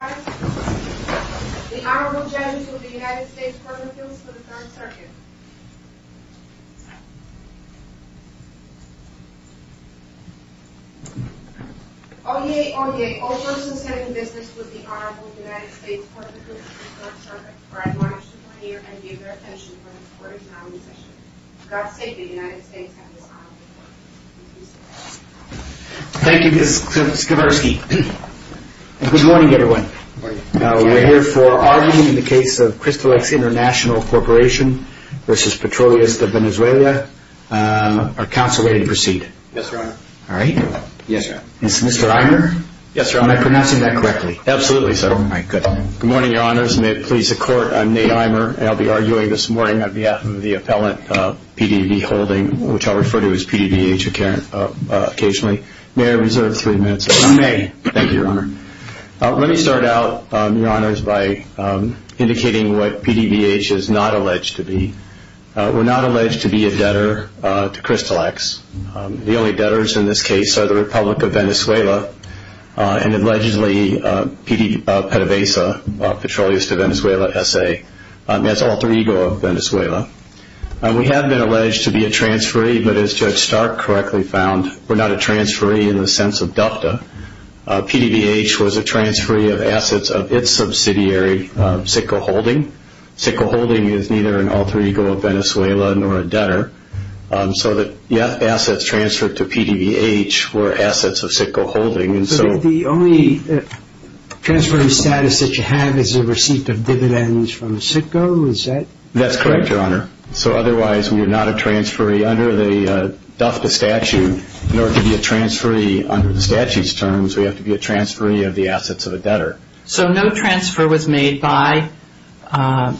The Honorable Judges of the United States Court of Appeals for the Third Circuit Oyez, oyez, all persons sitting in business with the Honorable United States Court of Appeals for the Third Circuit are admonished to appear and give their attention for the court is now in session. For God's sake, the United States has dishonored the court. Thank you Ms. Skowarski Good morning everyone. We're here for argument in the case of Cristallex International Corporation v. Petroleos De Venezuela. Are counsel ready to proceed? Yes, Your Honor. All right. Yes, Your Honor. Is Mr. Imer? Yes, Your Honor. Am I pronouncing that correctly? Absolutely so. Good morning, Your Honors. May it please the court, I'm Nate Imer. I'll be arguing this morning on behalf of the appellant, P.D.B. Holding, which I'll refer to as P.D.B.H. occasionally. May I reserve three minutes? You may. Thank you, Your Honor. Let me start out, Your Honors, by indicating what P.D.B.H. is not alleged to be. We're not alleged to be a debtor to Cristallex. The only debtors in this case are the Republic of Venezuela and allegedly P.D.B.H., Petroleos De Venezuela S.A. That's alter ego of Venezuela. We have been alleged to be a transferee, but as Judge Stark correctly found, we're not a transferee in the sense of ducta. P.D.B.H. was a transferee of assets of its subsidiary, Sitco Holding. Sitco Holding is neither an alter ego of Venezuela nor a debtor. So the assets transferred to P.D.B.H. were assets of Sitco Holding. So the only transferring status that you have is a receipt of dividends from Sitco, is that correct? That's correct, Your Honor. So otherwise we are not a transferee under the ducta statute. In order to be a transferee under the statute's terms, we have to be a transferee of the assets of a debtor. So no transfer was made by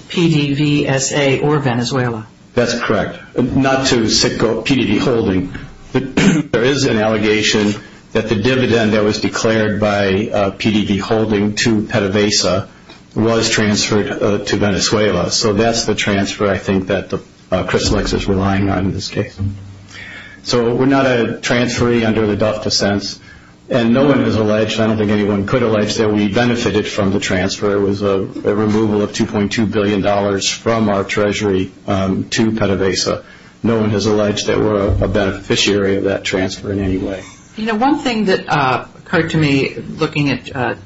P.D.B.S.A. or Venezuela. That's correct. Not to Sitco, P.D.B.H. There is an allegation that the dividend that was declared by P.D.B.H. to Petavesa was transferred to Venezuela. So that's the transfer, I think, that Chris Lex is relying on in this case. So we're not a transferee under the ducta sense. And no one has alleged, I don't think anyone could allege, that we benefited from the transfer. It was a removal of $2.2 billion from our treasury to Petavesa. No one has alleged that we're a beneficiary of that transfer in any way. You know, one thing that occurred to me looking at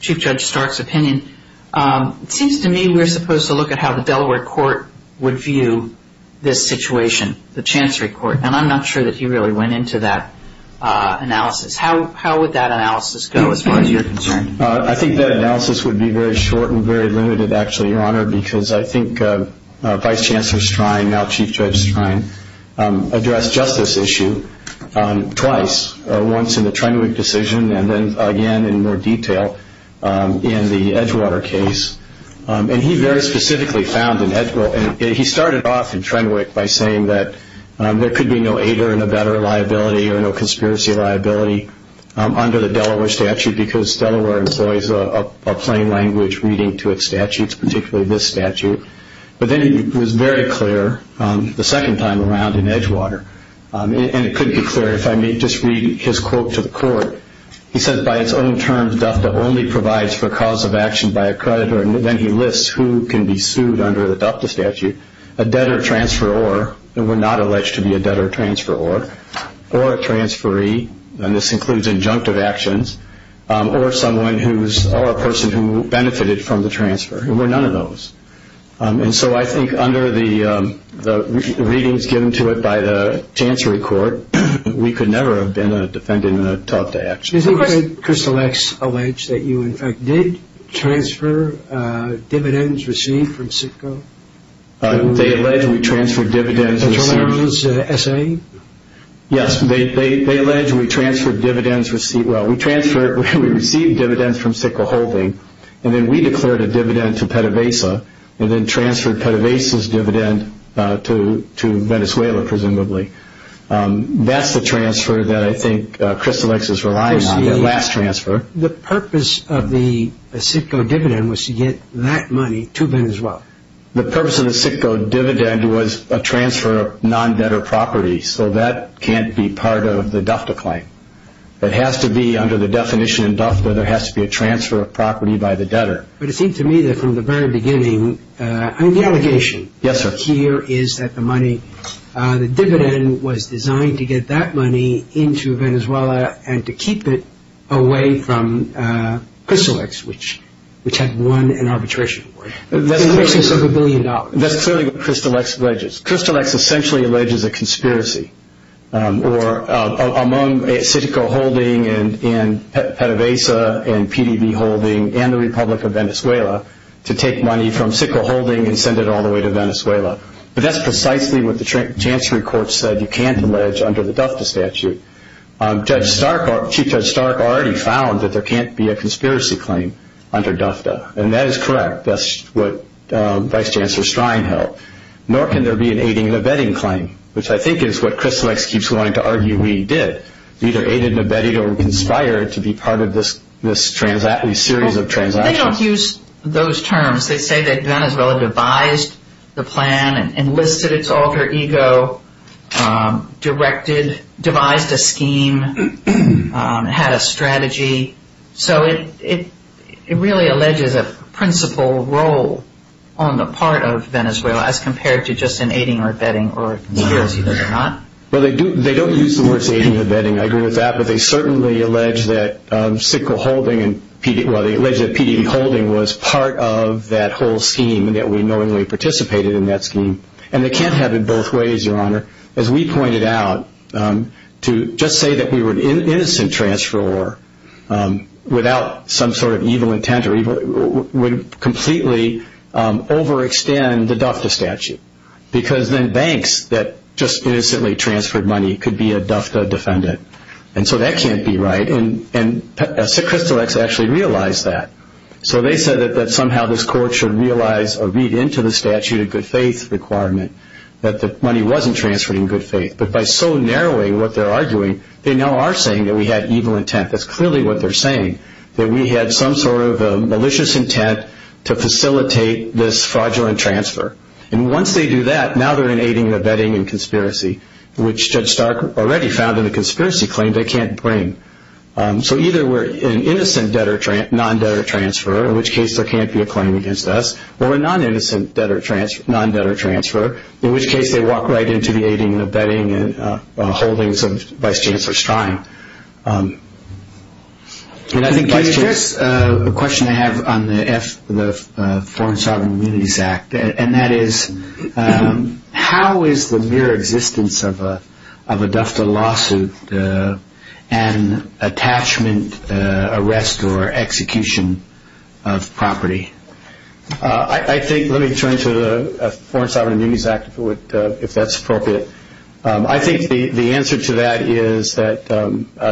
Chief Judge Stark's opinion, it seems to me we're supposed to look at how the Delaware court would view this situation, the Chancery court. And I'm not sure that he really went into that analysis. How would that analysis go as far as you're concerned? I think that analysis would be very short and very limited, actually, Your Honor, because I think Vice Chancellor Strine, now Chief Judge Strine, addressed just this issue twice, once in the Trenwick decision and then again in more detail in the Edgewater case. And he very specifically found in Edgewater. He started off in Trenwick by saying that there could be no aider in a better liability or no conspiracy liability under the Delaware statute because Delaware employs a plain language reading to its statutes, particularly this statute. But then he was very clear the second time around in Edgewater. And it couldn't be clearer. If I may just read his quote to the court, he said, by its own terms, DUFTA only provides for a cause of action by a creditor. And then he lists who can be sued under the DUFTA statute, a debtor transferor, and we're not alleged to be a debtor transferor, or a transferee, and this includes injunctive actions, or a person who benefited from the transfer. There were none of those. And so I think under the readings given to it by the Chancery Court, we could never have been a defendant in a DUFTA action. Did Crystal X allege that you, in fact, did transfer dividends received from CITCO? They allege we transferred dividends received. Mr. Lerner's essay? Yes, they allege we transferred dividends received. Well, we transferred, we received dividends from CITCO holding, and then we declared a dividend to PETAVASA, and then transferred PETAVASA's dividend to Venezuela, presumably. That's the transfer that I think Crystal X is relying on, that last transfer. The purpose of the CITCO dividend was to get that money to Venezuela. The purpose of the CITCO dividend was a transfer of non-debtor property, so that can't be part of the DUFTA claim. It has to be under the definition in DUFTA, there has to be a transfer of property by the debtor. But it seems to me that from the very beginning, I mean, the allegation here is that the money, the dividend was designed to get that money into Venezuela and to keep it away from Crystal X, which had won an arbitration award. That's clearly what Crystal X alleges. Crystal X essentially alleges a conspiracy among CITCO holding and PETAVASA and PDV holding and the Republic of Venezuela to take money from CITCO holding and send it all the way to Venezuela. But that's precisely what the Chancery Court said you can't allege under the DUFTA statute. Chief Judge Stark already found that there can't be a conspiracy claim under DUFTA, and that is correct. That's what Vice Chancellor Strine held. Nor can there be an aiding and abetting claim, which I think is what Crystal X keeps wanting to argue we did. Either aided and abetted or conspired to be part of this series of transactions. They don't use those terms. They say that Venezuela devised the plan, enlisted its alter ego, directed, devised a scheme, had a strategy. So it really alleges a principal role on the part of Venezuela as compared to just an aiding or abetting or conspiracy. They don't use the words aiding or abetting. I agree with that. But they certainly allege that CITCO holding and PDV holding was part of that whole scheme and that we knowingly participated in that scheme. And they can't have it both ways, Your Honor. As we pointed out, to just say that we were an innocent transferor without some sort of evil intent would completely overextend the DUFTA statute. Because then banks that just innocently transferred money could be a DUFTA defendant. And so that can't be right. And Crystal X actually realized that. So they said that somehow this court should realize or read into the statute a good faith requirement, that the money wasn't transferred in good faith. But by so narrowing what they're arguing, they now are saying that we had evil intent. That's clearly what they're saying, that we had some sort of malicious intent to facilitate this fraudulent transfer. And once they do that, now they're in aiding and abetting and conspiracy, which Judge Stark already found in the conspiracy claim they can't bring. So either we're an innocent non-debtor transferor, in which case there can't be a claim against us, or a non-innocent non-debtor transferor, in which case they walk right into the aiding and abetting and holdings of Vice Chancellor Stein. Can I address a question I have on the Foreign Sovereign Communities Act? And that is, how is the mere existence of a DUFTA lawsuit an attachment, arrest, or execution of property? Let me turn to the Foreign Sovereign Communities Act, if that's appropriate. I think the answer to that is that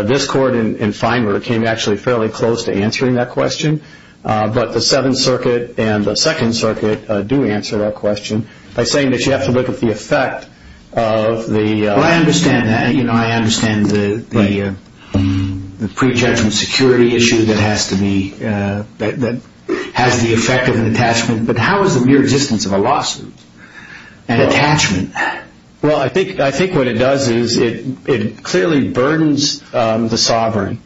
this court in Feinberg came actually fairly close to answering that question. But the Seventh Circuit and the Second Circuit do answer that question by saying that you have to look at the effect of the... Well, I understand that. I understand the pre-judgment security issue that has the effect of an attachment. But how is the mere existence of a lawsuit an attachment? Well, I think what it does is it clearly burdens the sovereign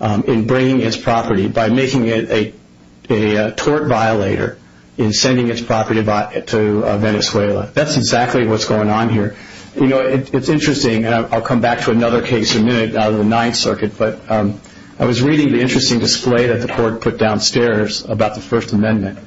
in bringing its property, by making it a tort violator in sending its property to Venezuela. That's exactly what's going on here. You know, it's interesting, and I'll come back to another case in a minute out of the Ninth Circuit, but I was reading the interesting display that the court put downstairs about the First Amendment.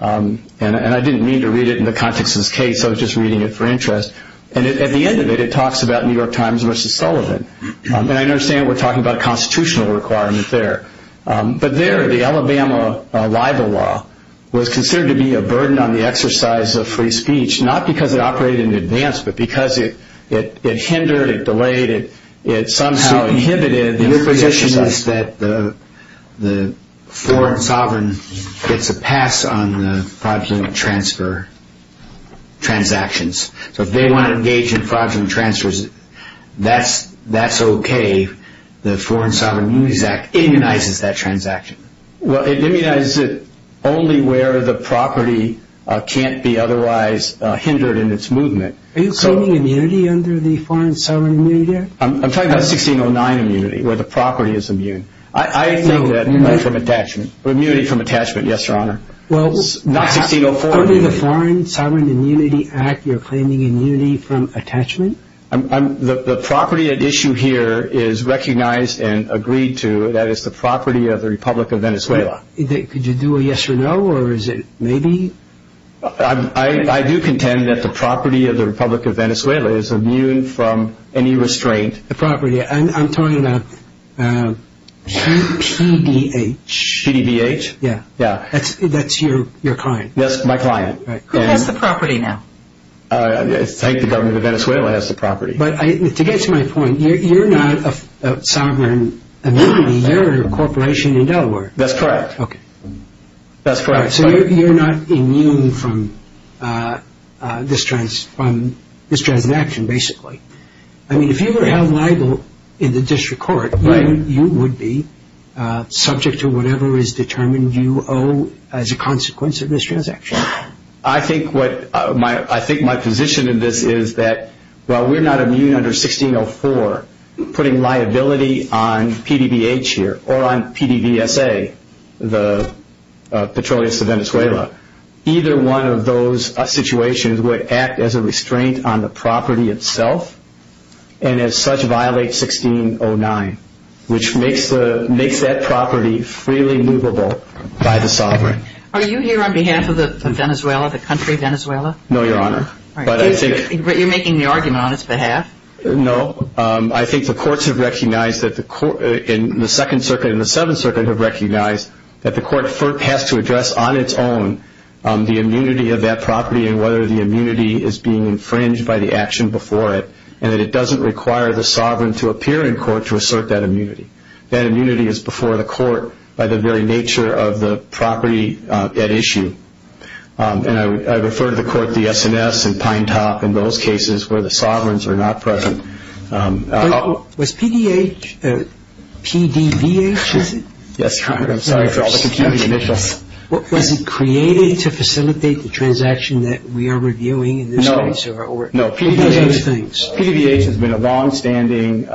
And I didn't mean to read it in the context of this case. I was just reading it for interest. And at the end of it, it talks about New York Times v. Sullivan. And I understand we're talking about a constitutional requirement there. But there, the Alabama libel law was considered to be a burden on the exercise of free speech, not because it operated in advance, but because it hindered, it delayed, it somehow inhibited... It says that the foreign sovereign gets a pass on the fraudulent transfer transactions. So if they want to engage in fraudulent transfers, that's okay. The Foreign Sovereign Immunities Act immunizes that transaction. Well, it immunizes it only where the property can't be otherwise hindered in its movement. Are you claiming immunity under the Foreign Sovereign Immunity Act? I'm talking about 1609 immunity, where the property is immune. I think that... Immunity from attachment. Immunity from attachment, yes, Your Honor. Well... Not 1604 immunity. Under the Foreign Sovereign Immunity Act, you're claiming immunity from attachment? The property at issue here is recognized and agreed to. That is the property of the Republic of Venezuela. Could you do a yes or no, or is it maybe? I do contend that the property of the Republic of Venezuela is immune from any restraint. The property, I'm talking about PDBH. PDBH? Yeah. That's your client? That's my client. Who has the property now? I think the government of Venezuela has the property. But to get to my point, you're not a sovereign immunity, you're a corporation in Delaware. That's correct. Okay. So you're not immune from this transaction, basically. I mean, if you were held liable in the district court, you would be, subject to whatever is determined you owe as a consequence of this transaction. I think my position in this is that while we're not immune under 1604, putting liability on PDBH here or on PDVSA, the Petroleum of Venezuela, either one of those situations would act as a restraint on the property itself and as such violate 1609, which makes that property freely movable by the sovereign. Are you here on behalf of Venezuela, the country Venezuela? No, Your Honor. But you're making the argument on its behalf? No. I think the courts have recognized that the court in the Second Circuit and the Seventh Circuit have recognized that the court has to address on its own the immunity of that property and whether the immunity is being infringed by the action before it and that it doesn't require the sovereign to appear in court to assert that immunity. That immunity is before the court by the very nature of the property at issue. And I refer to the court, the S&S and Pine Top in those cases where the sovereigns are not present. Was PDH, PDVH, is it? Yes, Your Honor. I'm sorry for all the confusion. Was it created to facilitate the transaction that we are reviewing in this case? No. PDVH has been a longstanding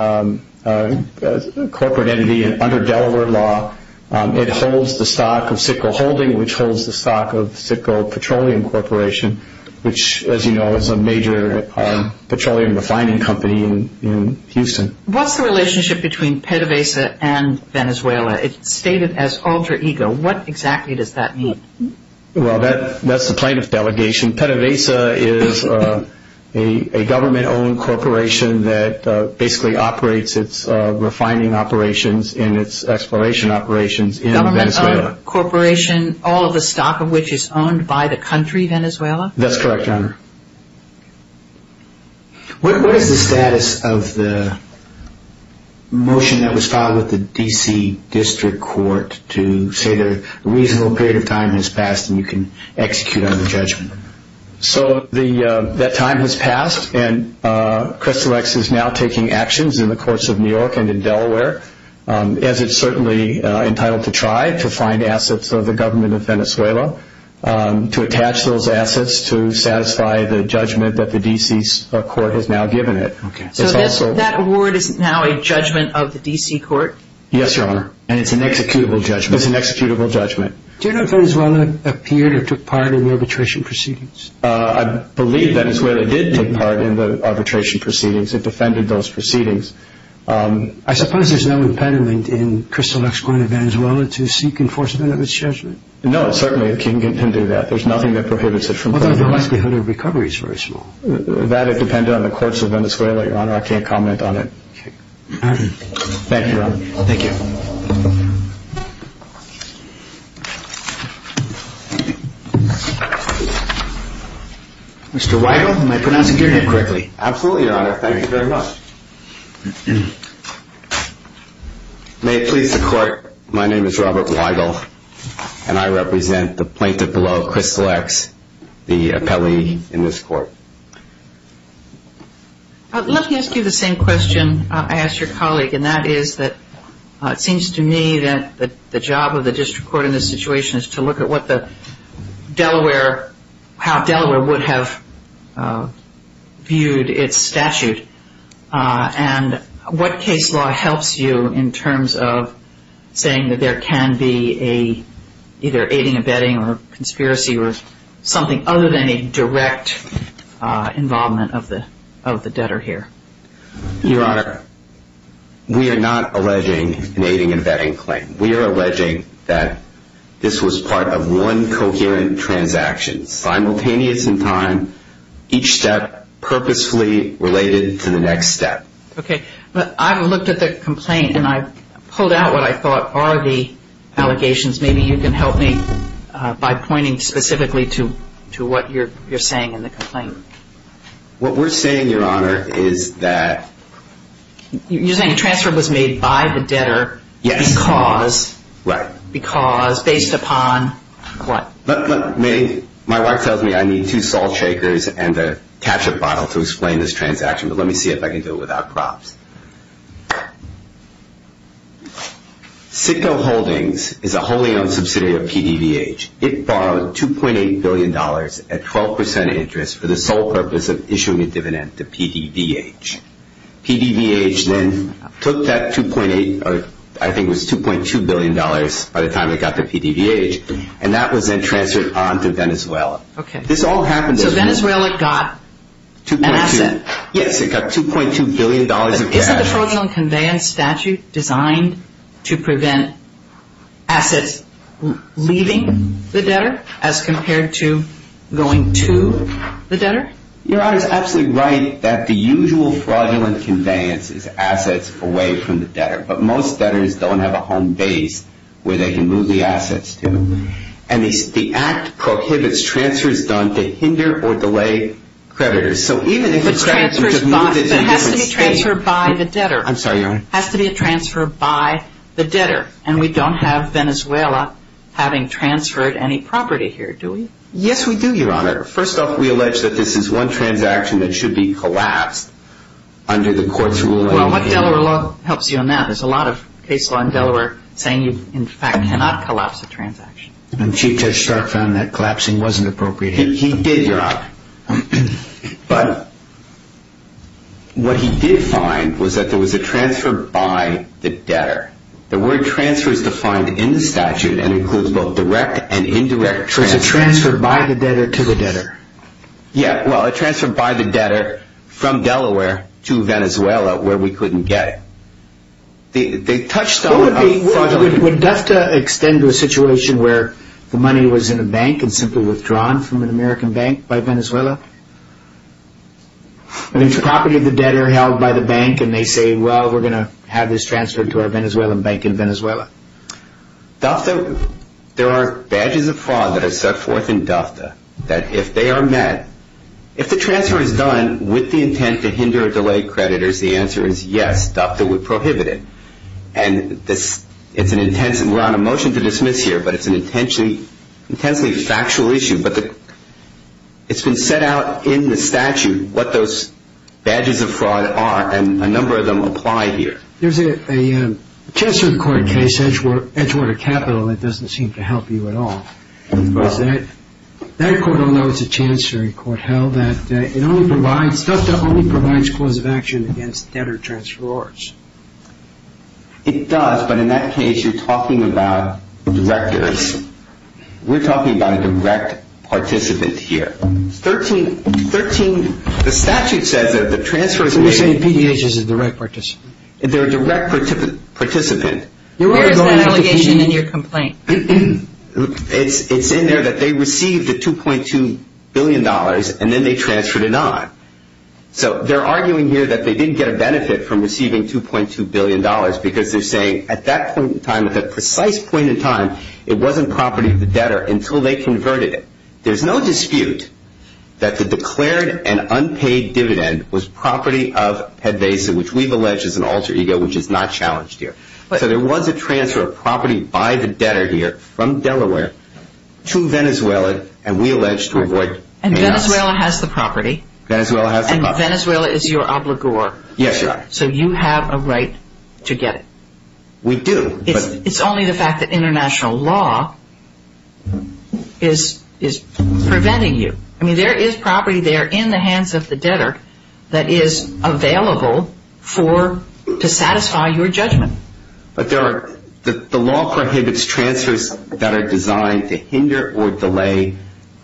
corporate entity under Delaware law. It holds the stock of Citgo Holding, which holds the stock of Citgo Petroleum Corporation, which, as you know, is a major petroleum refining company in Houston. What's the relationship between PDVH and Venezuela? It's stated as alter ego. What exactly does that mean? Well, that's the plaintiff delegation. PDVH is a government-owned corporation that basically operates its refining operations and its exploration operations in Venezuela. Government-owned corporation, all of the stock of which is owned by the country, Venezuela? That's correct, Your Honor. What is the status of the motion that was filed with the D.C. District Court to say that a reasonable period of time has passed and you can execute on the judgment? So that time has passed, and Crystal X is now taking actions in the courts of New York and in Delaware, as it's certainly entitled to try, to find assets of the government of Venezuela, to attach those assets to satisfy the judgment that the D.C. Court has now given it. So that award is now a judgment of the D.C. Court? Yes, Your Honor. And it's an executable judgment? It's an executable judgment. Do you know if Venezuela appeared or took part in the arbitration proceedings? I believe Venezuela did take part in the arbitration proceedings. It defended those proceedings. I suppose there's no impediment in Crystal X going to Venezuela to seek enforcement of its judgment? No, certainly it can do that. There's nothing that prohibits it from doing that. Although the likelihood of recovery is very small. That would depend on the courts of Venezuela, Your Honor. I can't comment on it. Thank you, Your Honor. Thank you. Mr. Weigel, am I pronouncing your name correctly? Absolutely, Your Honor. Thank you very much. May it please the Court, my name is Robert Weigel, and I represent the plaintiff below, Crystal X, the appellee in this court. I'd love to ask you the same question I asked your colleague, and that is that it seems to me that the job of the district court in this situation is to look at how Delaware would have viewed its statute and what case law helps you in terms of saying that there can be either aiding and abetting or conspiracy or something other than a direct involvement of the debtor here. Your Honor, we are not alleging an aiding and abetting claim. We are alleging that this was part of one coherent transaction, simultaneous in time, each step purposefully related to the next step. Okay. I've looked at the complaint and I've pulled out what I thought are the allegations. Maybe you can help me by pointing specifically to what you're saying in the complaint. What we're saying, Your Honor, is that You're saying a transfer was made by the debtor because Yes. Right. Because, based upon what? Let me, my wife tells me I need two salt shakers and a ketchup bottle to explain this transaction, but let me see if I can do it without props. Citgo Holdings is a wholly owned subsidiary of PDVH. It borrowed $2.8 billion at 12% interest for the sole purpose of issuing a dividend to PDVH. PDVH then took that $2.8 or I think it was $2.2 billion by the time it got to PDVH and that was then transferred on to Venezuela. Okay. This all happened. So Venezuela got an asset. Yes, it got $2.2 billion of cash. Isn't the fraudulent conveyance statute designed to prevent assets leaving the debtor as compared to going to the debtor? Your Honor is absolutely right that the usual fraudulent conveyance is assets away from the debtor, but most debtors don't have a home base where they can move the assets to. And the act prohibits transfers done to hinder or delay creditors. But it has to be transferred by the debtor. I'm sorry, Your Honor. It has to be a transfer by the debtor, and we don't have Venezuela having transferred any property here, do we? Yes, we do, Your Honor. First off, we allege that this is one transaction that should be collapsed under the court's rule. Well, what Delaware law helps you on that? There's a lot of case law in Delaware saying you in fact cannot collapse a transaction. And Chief Judge Stark found that collapsing wasn't appropriate here. He did, Your Honor. But what he did find was that there was a transfer by the debtor. The word transfer is defined in the statute and includes both direct and indirect transfers. So it's a transfer by the debtor to the debtor. Yeah. Well, a transfer by the debtor from Delaware to Venezuela where we couldn't get it. They touched on a fraudulent… I think it's property of the debtor held by the bank, and they say, well, we're going to have this transferred to our Venezuelan bank in Venezuela. There are badges of fraud that are set forth in DFTA that if they are met, if the transfer is done with the intent to hinder or delay creditors, the answer is yes, DFTA would prohibit it. And we're on a motion to dismiss here, but it's an intensely factual issue. But it's been set out in the statute what those badges of fraud are, and a number of them apply here. There's a Chancellor of the Court case, Edgewater Capital, that doesn't seem to help you at all. That court, although it's a Chancery court, held that it only provides, DFTA only provides cause of action against debtor-transferors. It does, but in that case, you're talking about directors. We're talking about a direct participant here. The statute says that if the transfer is made… So you're saying PDH is a direct participant? They're a direct participant. Where is that allegation in your complaint? It's in there that they received the $2.2 billion, and then they transferred it on. So they're arguing here that they didn't get a benefit from receiving $2.2 billion because they're saying at that point in time, at that precise point in time, it wasn't property of the debtor until they converted it. There's no dispute that the declared and unpaid dividend was property of PDH, which we've alleged is an alter ego, which is not challenged here. So there was a transfer of property by the debtor here from Delaware to Venezuela, and we allege to avoid… And Venezuela has the property. Venezuela has the property. And Venezuela is your obligor. Yes, Your Honor. So you have a right to get it. We do. It's only the fact that international law is preventing you. I mean, there is property there in the hands of the debtor that is available to satisfy your judgment. But the law prohibits transfers that are designed to hinder or delay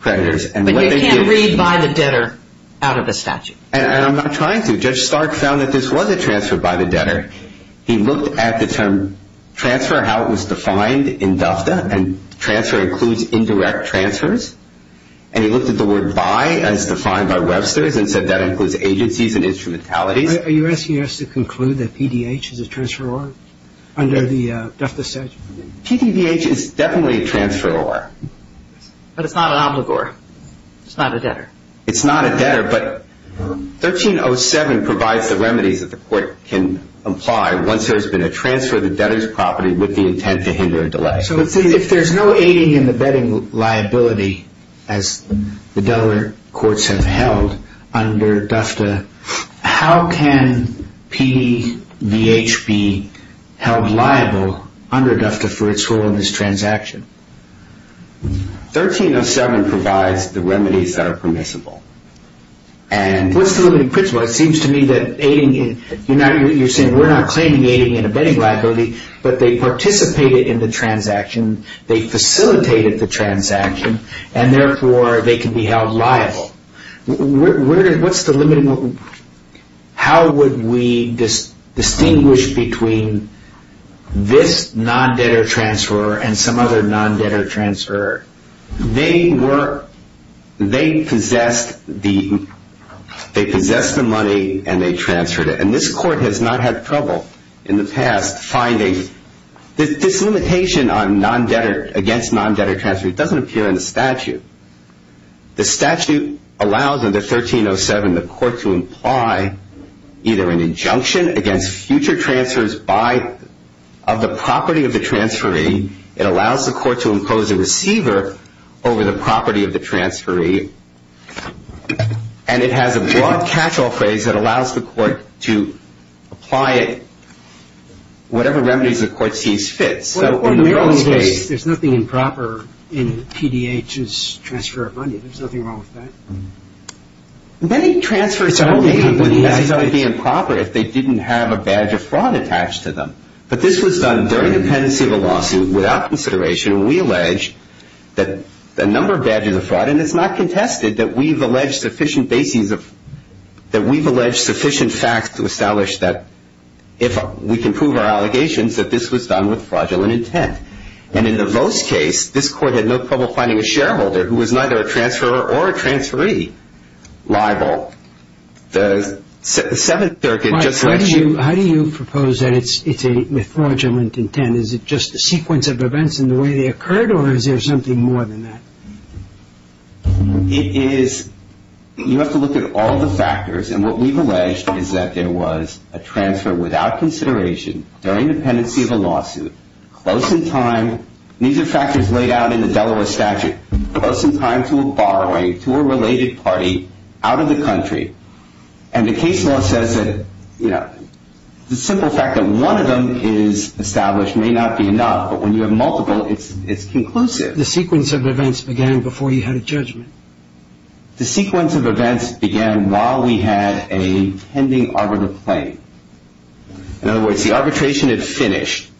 creditors. But you can't read by the debtor out of a statute. And I'm not trying to. Judge Stark found that this was a transfer by the debtor. He looked at the term transfer, how it was defined in DFTA, and transfer includes indirect transfers. And he looked at the word by as defined by Webster's and said that includes agencies and instrumentalities. Are you asking us to conclude that PDH is a transferor under the DFTA statute? PDH is definitely a transferor. But it's not an obligor. It's not a debtor. It's not a debtor. But 1307 provides the remedies that the court can apply once there's been a transfer of the debtor's property with the intent to hinder or delay. So if there's no aiding in the betting liability as the Delaware courts have held under DFTA, how can PDH be held liable under DFTA for its role in this transaction? 1307 provides the remedies that are permissible. What's the limiting principle? It seems to me that you're saying we're not claiming aiding in a betting liability, but they participated in the transaction, they facilitated the transaction, and therefore they can be held liable. What's the limiting? How would we distinguish between this non-debtor transferor and some other non-debtor transferor? They possessed the money and they transferred it. And this court has not had trouble in the past finding this limitation on non-debtor, against non-debtor transfer. It doesn't appear in the statute. The statute allows under 1307 the court to imply either an injunction against future transfers of the property of the transferee. It allows the court to impose a receiver over the property of the transferee. And it has a broad catch-all phrase that allows the court to apply it whatever remedies the court sees fit. There's nothing improper in PDH's transfer of money. There's nothing wrong with that. Many transfers would necessarily be improper if they didn't have a badge of fraud attached to them. But this was done during the pendency of a lawsuit without consideration. And we allege that a number of badges of fraud, and it's not contested that we've alleged sufficient bases of, And in the Vose case, this court had no trouble finding a shareholder who was neither a transferor or a transferee liable. The Seventh Circuit just lets you... How do you propose that it's a fraudulent intent? Is it just a sequence of events in the way they occurred, or is there something more than that? It is, you have to look at all the factors. And what we've alleged is that there was a transfer without consideration during the pendency of a lawsuit, close in time, and these are factors laid out in the Delaware statute, close in time to a borrowing to a related party out of the country. And the case law says that, you know, the simple fact that one of them is established may not be enough, but when you have multiple, it's conclusive. The sequence of events began before you had a judgment. The sequence of events began while we had a pending arbitral claim. In other words, the arbitration had finished.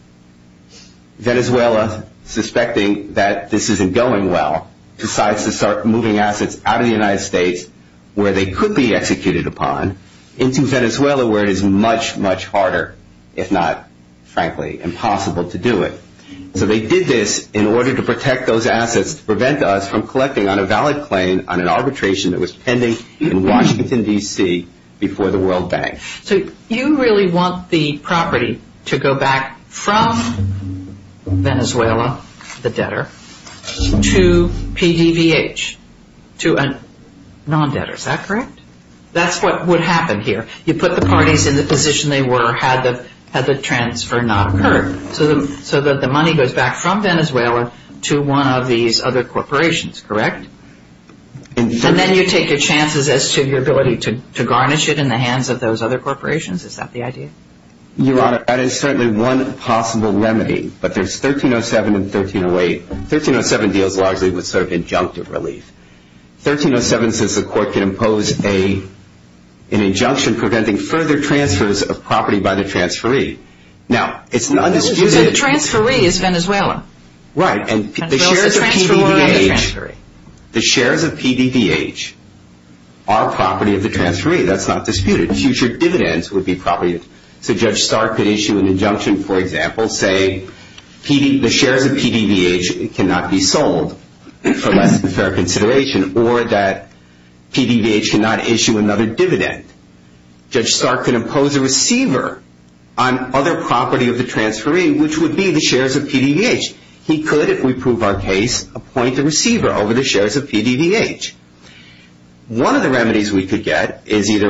Venezuela, suspecting that this isn't going well, decides to start moving assets out of the United States, where they could be executed upon, into Venezuela, where it is much, much harder, if not, frankly, impossible to do it. So they did this in order to protect those assets to prevent us from collecting on a valid claim on an arbitration that was pending in Washington, D.C., before the World Bank. So you really want the property to go back from Venezuela, the debtor, to PDVH, to a non-debtor. Is that correct? That's what would happen here. You put the parties in the position they were had the transfer not occurred. So the money goes back from Venezuela to one of these other corporations, correct? And then you take your chances as to your ability to garnish it in the hands of those other corporations? Is that the idea? Your Honor, that is certainly one possible remedy, but there's 1307 and 1308. 1307 deals largely with sort of injunctive relief. 1307 says the court can impose an injunction preventing further transfers of property by the transferee. So the transferee is Venezuela. Right, and the shares of PDVH are property of the transferee. That's not disputed. Future dividends would be property. So Judge Stark could issue an injunction, for example, say the shares of PDVH cannot be sold for less than fair consideration or that PDVH cannot issue another dividend. Judge Stark could impose a receiver on other property of the transferee, which would be the shares of PDVH. He could, if we prove our case, appoint a receiver over the shares of PDVH. One of the remedies we could get is either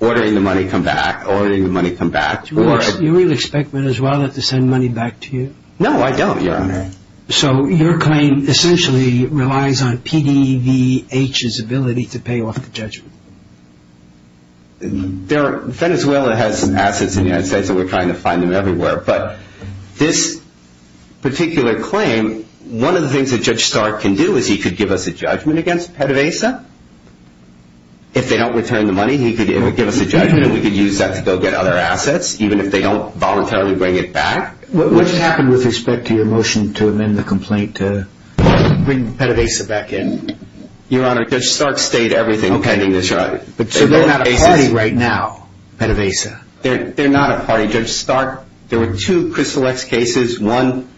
ordering the money come back, ordering the money come back. Do you really expect Venezuela to send money back to you? No, I don't, Your Honor. So your claim essentially relies on PDVH's ability to pay off the judgment. Venezuela has assets in the United States, and we're trying to find them everywhere. But this particular claim, one of the things that Judge Stark can do is he could give us a judgment against PDVSA. If they don't return the money, he could give us a judgment, and we could use that to go get other assets, even if they don't voluntarily bring it back. What happened with respect to your motion to amend the complaint to bring PDVSA back in? Your Honor, Judge Stark stayed everything pending this judgment. So they're not a party right now, PDVSA? They're not a party. Judge Stark, there were two Crystal X cases. One,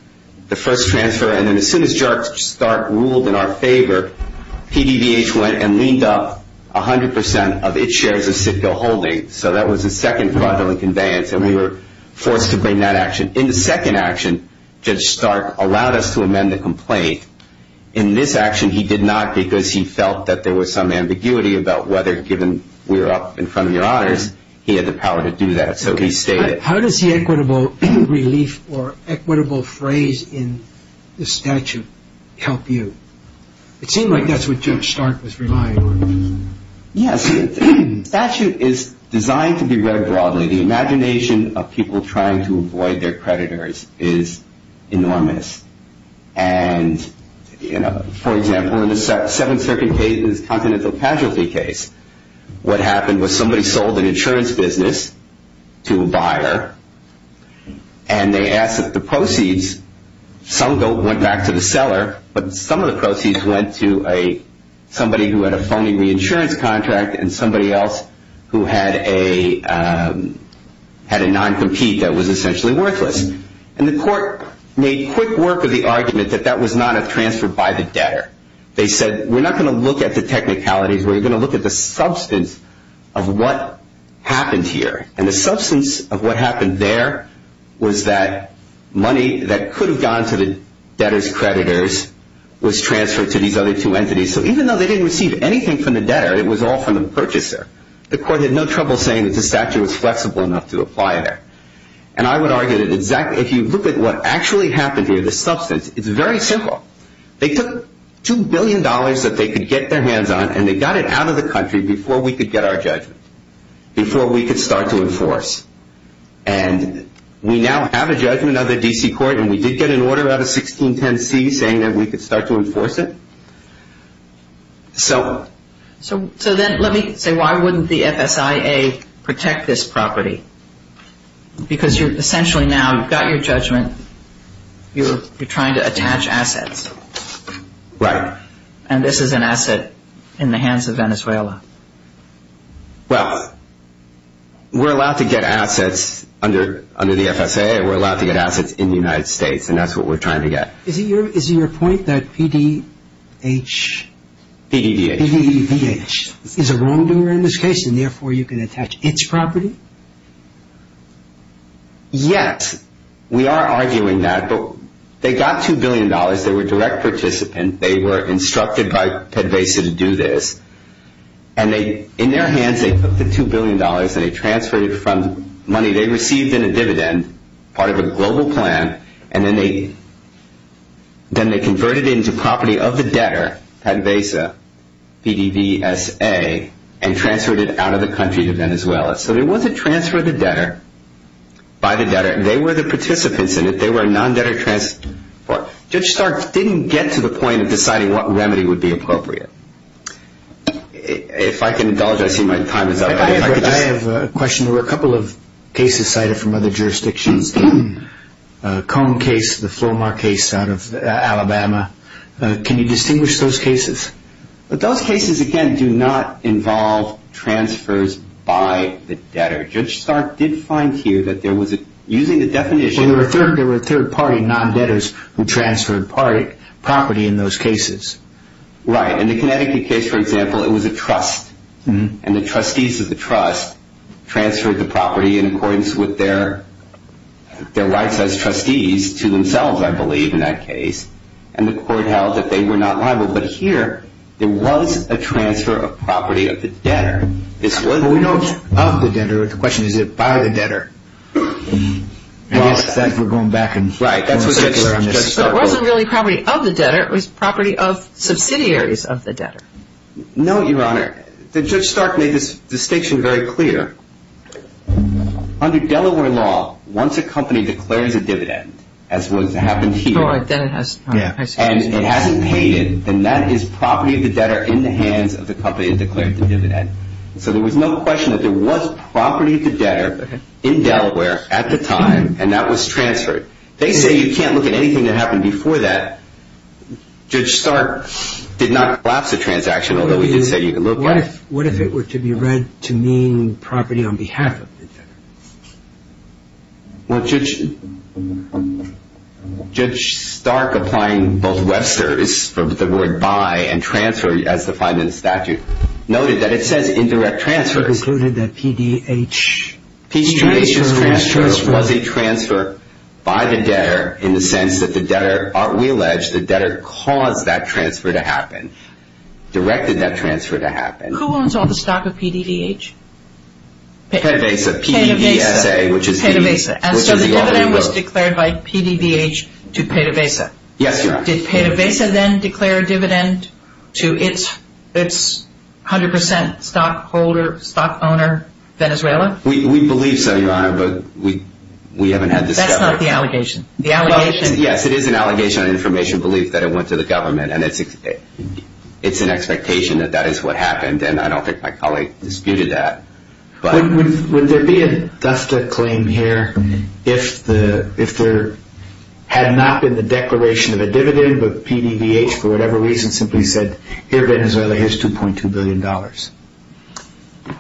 the first transfer, and then as soon as Judge Stark ruled in our favor, PDVH went and leaned up 100 percent of its shares of Citgo Holdings. So that was the second fraudulent conveyance, and we were forced to bring that action. In the second action, Judge Stark allowed us to amend the complaint. In this action, he did not because he felt that there was some ambiguity about whether, given we were up in front of Your Honors, he had the power to do that. So he stayed it. How does the equitable relief or equitable phrase in the statute help you? It seemed like that's what Judge Stark was relying on. Yes. The statute is designed to be read broadly. The imagination of people trying to avoid their creditors is enormous. And, you know, for example, in the Seventh Circuit case, the Continental Casualty case, what happened was somebody sold an insurance business to a buyer, and they asked that the proceeds, some went back to the seller, but some of the proceeds went to somebody who had a phony reinsurance contract and somebody else who had a non-compete that was essentially worthless. And the court made quick work of the argument that that was not a transfer by the debtor. They said, we're not going to look at the technicalities. We're going to look at the substance of what happened here. And the substance of what happened there was that money that could have gone to the debtor's creditors was transferred to these other two entities. So even though they didn't receive anything from the debtor, it was all from the purchaser. The court had no trouble saying that the statute was flexible enough to apply there. And I would argue that if you look at what actually happened here, the substance, it's very simple. They took $2 billion that they could get their hands on, and they got it out of the country before we could get our judgment, before we could start to enforce. And we now have a judgment of the D.C. court, and we did get an order out of 1610C saying that we could start to enforce it. So then let me say, why wouldn't the FSIA protect this property? Because essentially now you've got your judgment. You're trying to attach assets. Right. And this is an asset in the hands of Venezuela. Well, we're allowed to get assets under the FSIA. We're allowed to get assets in the United States, and that's what we're trying to get. Is it your point that PDEVH is a wrongdoer in this case, and therefore you can attach its property? Yes, we are arguing that. They got $2 billion. They were direct participants. They were instructed by PDEVH to do this. And in their hands they took the $2 billion, and they transferred it from money they received in a dividend, part of a global plan, and then they converted it into property of the debtor, PDEVH, PDVSA, and transferred it out of the country to Venezuela. So there was a transfer of the debtor by the debtor. They were the participants in it. They were a non-debtor transfer. Judge Stark didn't get to the point of deciding what remedy would be appropriate. If I can indulge, I see my time is up. I have a question. There were a couple of cases cited from other jurisdictions, the Cone case, the Flomar case out of Alabama. Can you distinguish those cases? Those cases, again, do not involve transfers by the debtor. Judge Stark did find here that there was a, using the definition. Well, there were third-party non-debtors who transferred property in those cases. Right. In the Connecticut case, for example, it was a trust, and the trustees of the trust transferred the property in accordance with their rights as trustees to themselves, I believe, in that case, and the court held that they were not liable. But here there was a transfer of property of the debtor. Well, we know it's of the debtor. The question is, is it by the debtor? I guess we're going back and forth. Right. It wasn't really property of the debtor. It was property of subsidiaries of the debtor. No, Your Honor. Judge Stark made this distinction very clear. Under Delaware law, once a company declares a dividend, as what has happened here, and it hasn't paid it, then that is property of the debtor in the hands of the company that declared the dividend. So there was no question that there was property of the debtor in Delaware at the time, and that was transferred. They say you can't look at anything that happened before that. Judge Stark did not collapse the transaction, although he did say you could look at it. What if it were to be read to mean property on behalf of the debtor? Well, Judge Stark, applying both Webster's, the word buy and transfer as defined in the statute, noted that it says indirect transfer. It concluded that PDH was transferred. PDH's transfer was a transfer by the debtor in the sense that the debtor, we allege, the debtor caused that transfer to happen, directed that transfer to happen. Who owns all the stock of PDDH? PDVSA. PDVSA. PDVSA. And so the dividend was declared by PDVH to PDVSA. Yes, Your Honor. Did PDVSA then declare a dividend to its 100 percent stockholder, stock owner, Venezuela? We believe so, Your Honor, but we haven't had this discovery. That's not the allegation. Yes, it is an allegation on information belief that it went to the government, and it's an expectation that that is what happened, and I don't think my colleague disputed that. Would there be a DASDA claim here if there had not been the declaration of a dividend, but PDVH, for whatever reason, simply said, here, Venezuela, here's $2.2 billion?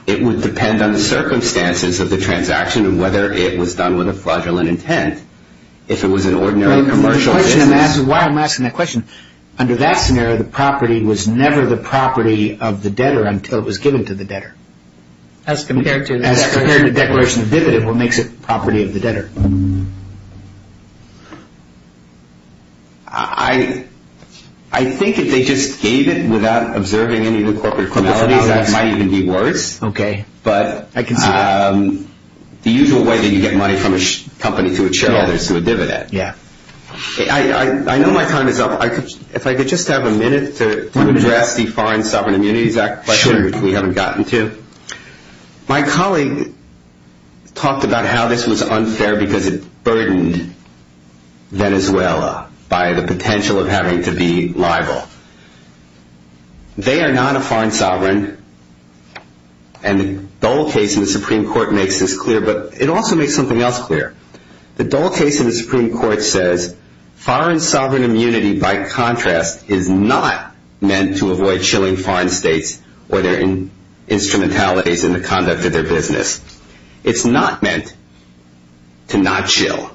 It would depend on the circumstances of the transaction and whether it was done with a fraudulent intent. If it was an ordinary commercial business. Why am I asking that question? Under that scenario, the property was never the property of the debtor until it was given to the debtor. As compared to the declaration of a dividend, what makes it the property of the debtor? I think if they just gave it without observing any of the corporate formalities, that might even be worse. Okay. But the usual way that you get money from a company to a shareholder is through a dividend. Yeah. I know my time is up. If I could just have a minute to address the Foreign Sovereign Immunities Act question. Sure. We haven't gotten to. My colleague talked about how this was unfair because it burdened Venezuela by the potential of having to be liable. They are not a foreign sovereign, and the Dole case in the Supreme Court makes this clear, but it also makes something else clear. The Dole case in the Supreme Court says foreign sovereign immunity, by contrast, is not meant to avoid chilling foreign states or their instrumentalities in the conduct of their business. It's not meant to not chill.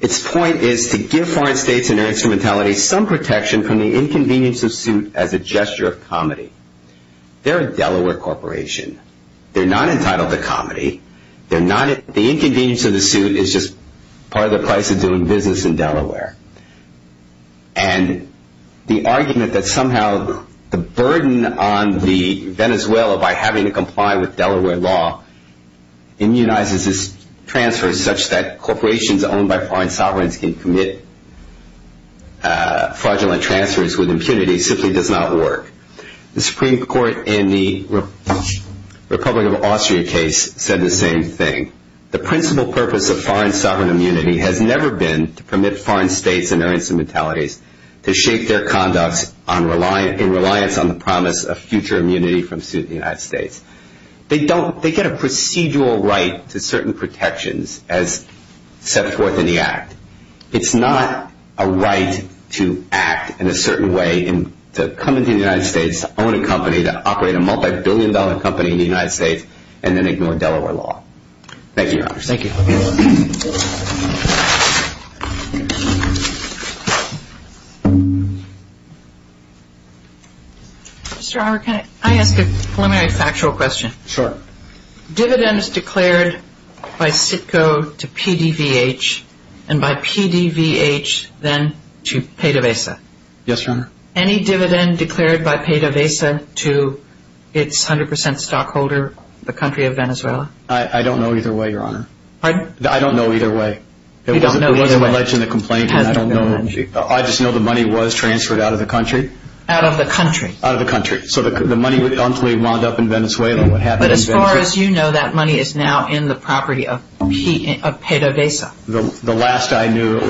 Its point is to give foreign states and their instrumentalities some protection from the inconvenience of suit as a gesture of comedy. They're a Delaware corporation. They're not entitled to comedy. The inconvenience of the suit is just part of the price of doing business in Delaware. And the argument that somehow the burden on Venezuela by having to comply with Delaware law immunizes its transfers such that corporations owned by foreign sovereigns can commit fraudulent transfers with impunity simply does not work. The Supreme Court in the Republic of Austria case said the same thing. The principal purpose of foreign sovereign immunity has never been to permit foreign states and their instrumentalities to shake their conduct in reliance on the promise of future immunity from suit in the United States. They get a procedural right to certain protections as set forth in the act. It's not a right to act in a certain way and to come into the United States, own a company, to operate a multibillion-dollar company in the United States, and then ignore Delaware law. Thank you, Your Honor. Thank you. Mr. Howard, can I ask a preliminary factual question? Sure. Dividends declared by CITCO to PDVH and by PDVH then to PDVSA. Yes, Your Honor. Any dividend declared by PDVSA to its 100 percent stockholder, the country of Venezuela? I don't know either way, Your Honor. Pardon? I don't know either way. You don't know either way. It wasn't alleged in the complaint, and I don't know. I just know the money was transferred out of the country. Out of the country. Out of the country. So the money would eventually wind up in Venezuela. But as far as you know, that money is now in the property of PDVSA. The last I knew it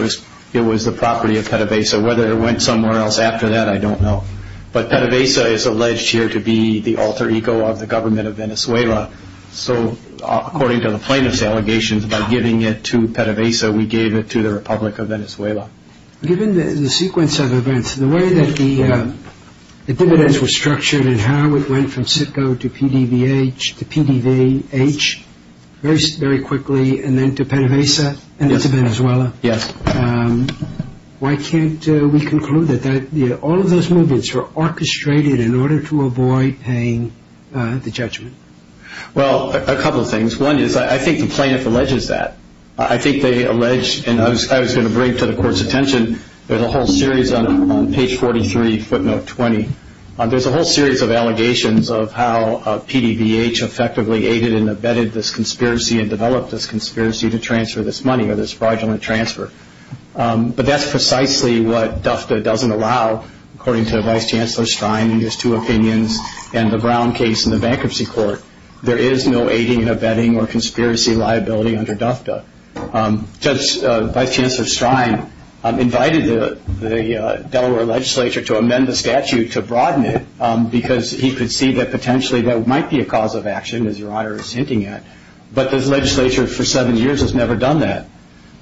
was the property of PDVSA. Whether it went somewhere else after that, I don't know. But PDVSA is alleged here to be the alter ego of the government of Venezuela. So according to the plaintiff's allegations, by giving it to PDVSA, we gave it to the Republic of Venezuela. Given the sequence of events, the way that the dividends were structured and how it went from CITCO to PDVH to PDVH very quickly and then to PDVSA and then to Venezuela. Yes. Why can't we conclude that all of those movements were orchestrated in order to avoid paying the judgment? Well, a couple of things. One is I think the plaintiff alleges that. I think they allege, and I was going to bring it to the court's attention, there's a whole series on page 43, footnote 20. There's a whole series of allegations of how PDVH effectively aided and abetted this conspiracy and developed this conspiracy to transfer this money or this fraudulent transfer. But that's precisely what DUFTA doesn't allow, according to Vice Chancellor Stein in his two opinions and the Brown case in the bankruptcy court. There is no aiding and abetting or conspiracy liability under DUFTA. Vice Chancellor Stein invited the Delaware legislature to amend the statute to broaden it because he could see that potentially that might be a cause of action, as Your Honor is hinting at, but the legislature for seven years has never done that.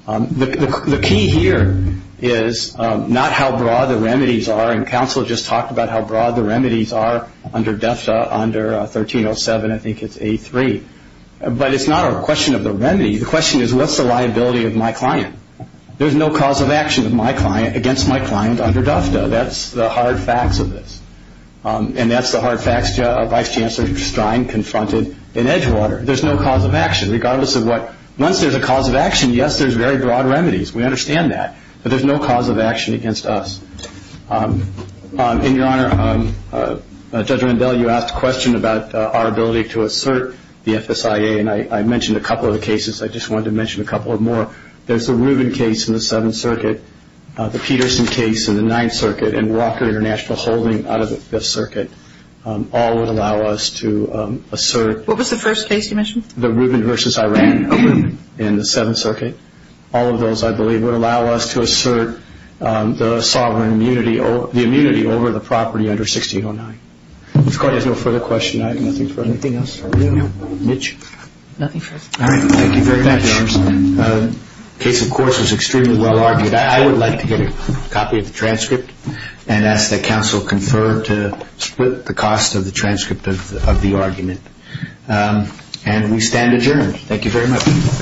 The key here is not how broad the remedies are, and counsel just talked about how broad the remedies are under DUFTA under 1307, I think it's A3, but it's not a question of the remedies. The question is what's the liability of my client? There's no cause of action against my client under DUFTA. That's the hard facts of this, and that's the hard facts Vice Chancellor Stein confronted in Edgewater. There's no cause of action regardless of what. Once there's a cause of action, yes, there's very broad remedies. We understand that, but there's no cause of action against us. And, Your Honor, Judge Rendell, you asked a question about our ability to assert the FSIA, and I mentioned a couple of the cases. I just wanted to mention a couple more. There's the Rubin case in the Seventh Circuit, the Peterson case in the Ninth Circuit, and Walker International Holding out of the Fifth Circuit. All would allow us to assert. What was the first case you mentioned? The Rubin v. Iran in the Seventh Circuit. All of those, I believe, would allow us to assert the sovereign immunity, the immunity over the property under 1609. If the Court has no further questions, I have nothing for anything else. Mitch. Nothing further. All right. Thank you very much. The case, of course, was extremely well argued. I would like to get a copy of the transcript and ask that counsel confer to split the cost of the transcript of the argument. And we stand adjourned. Thank you very much.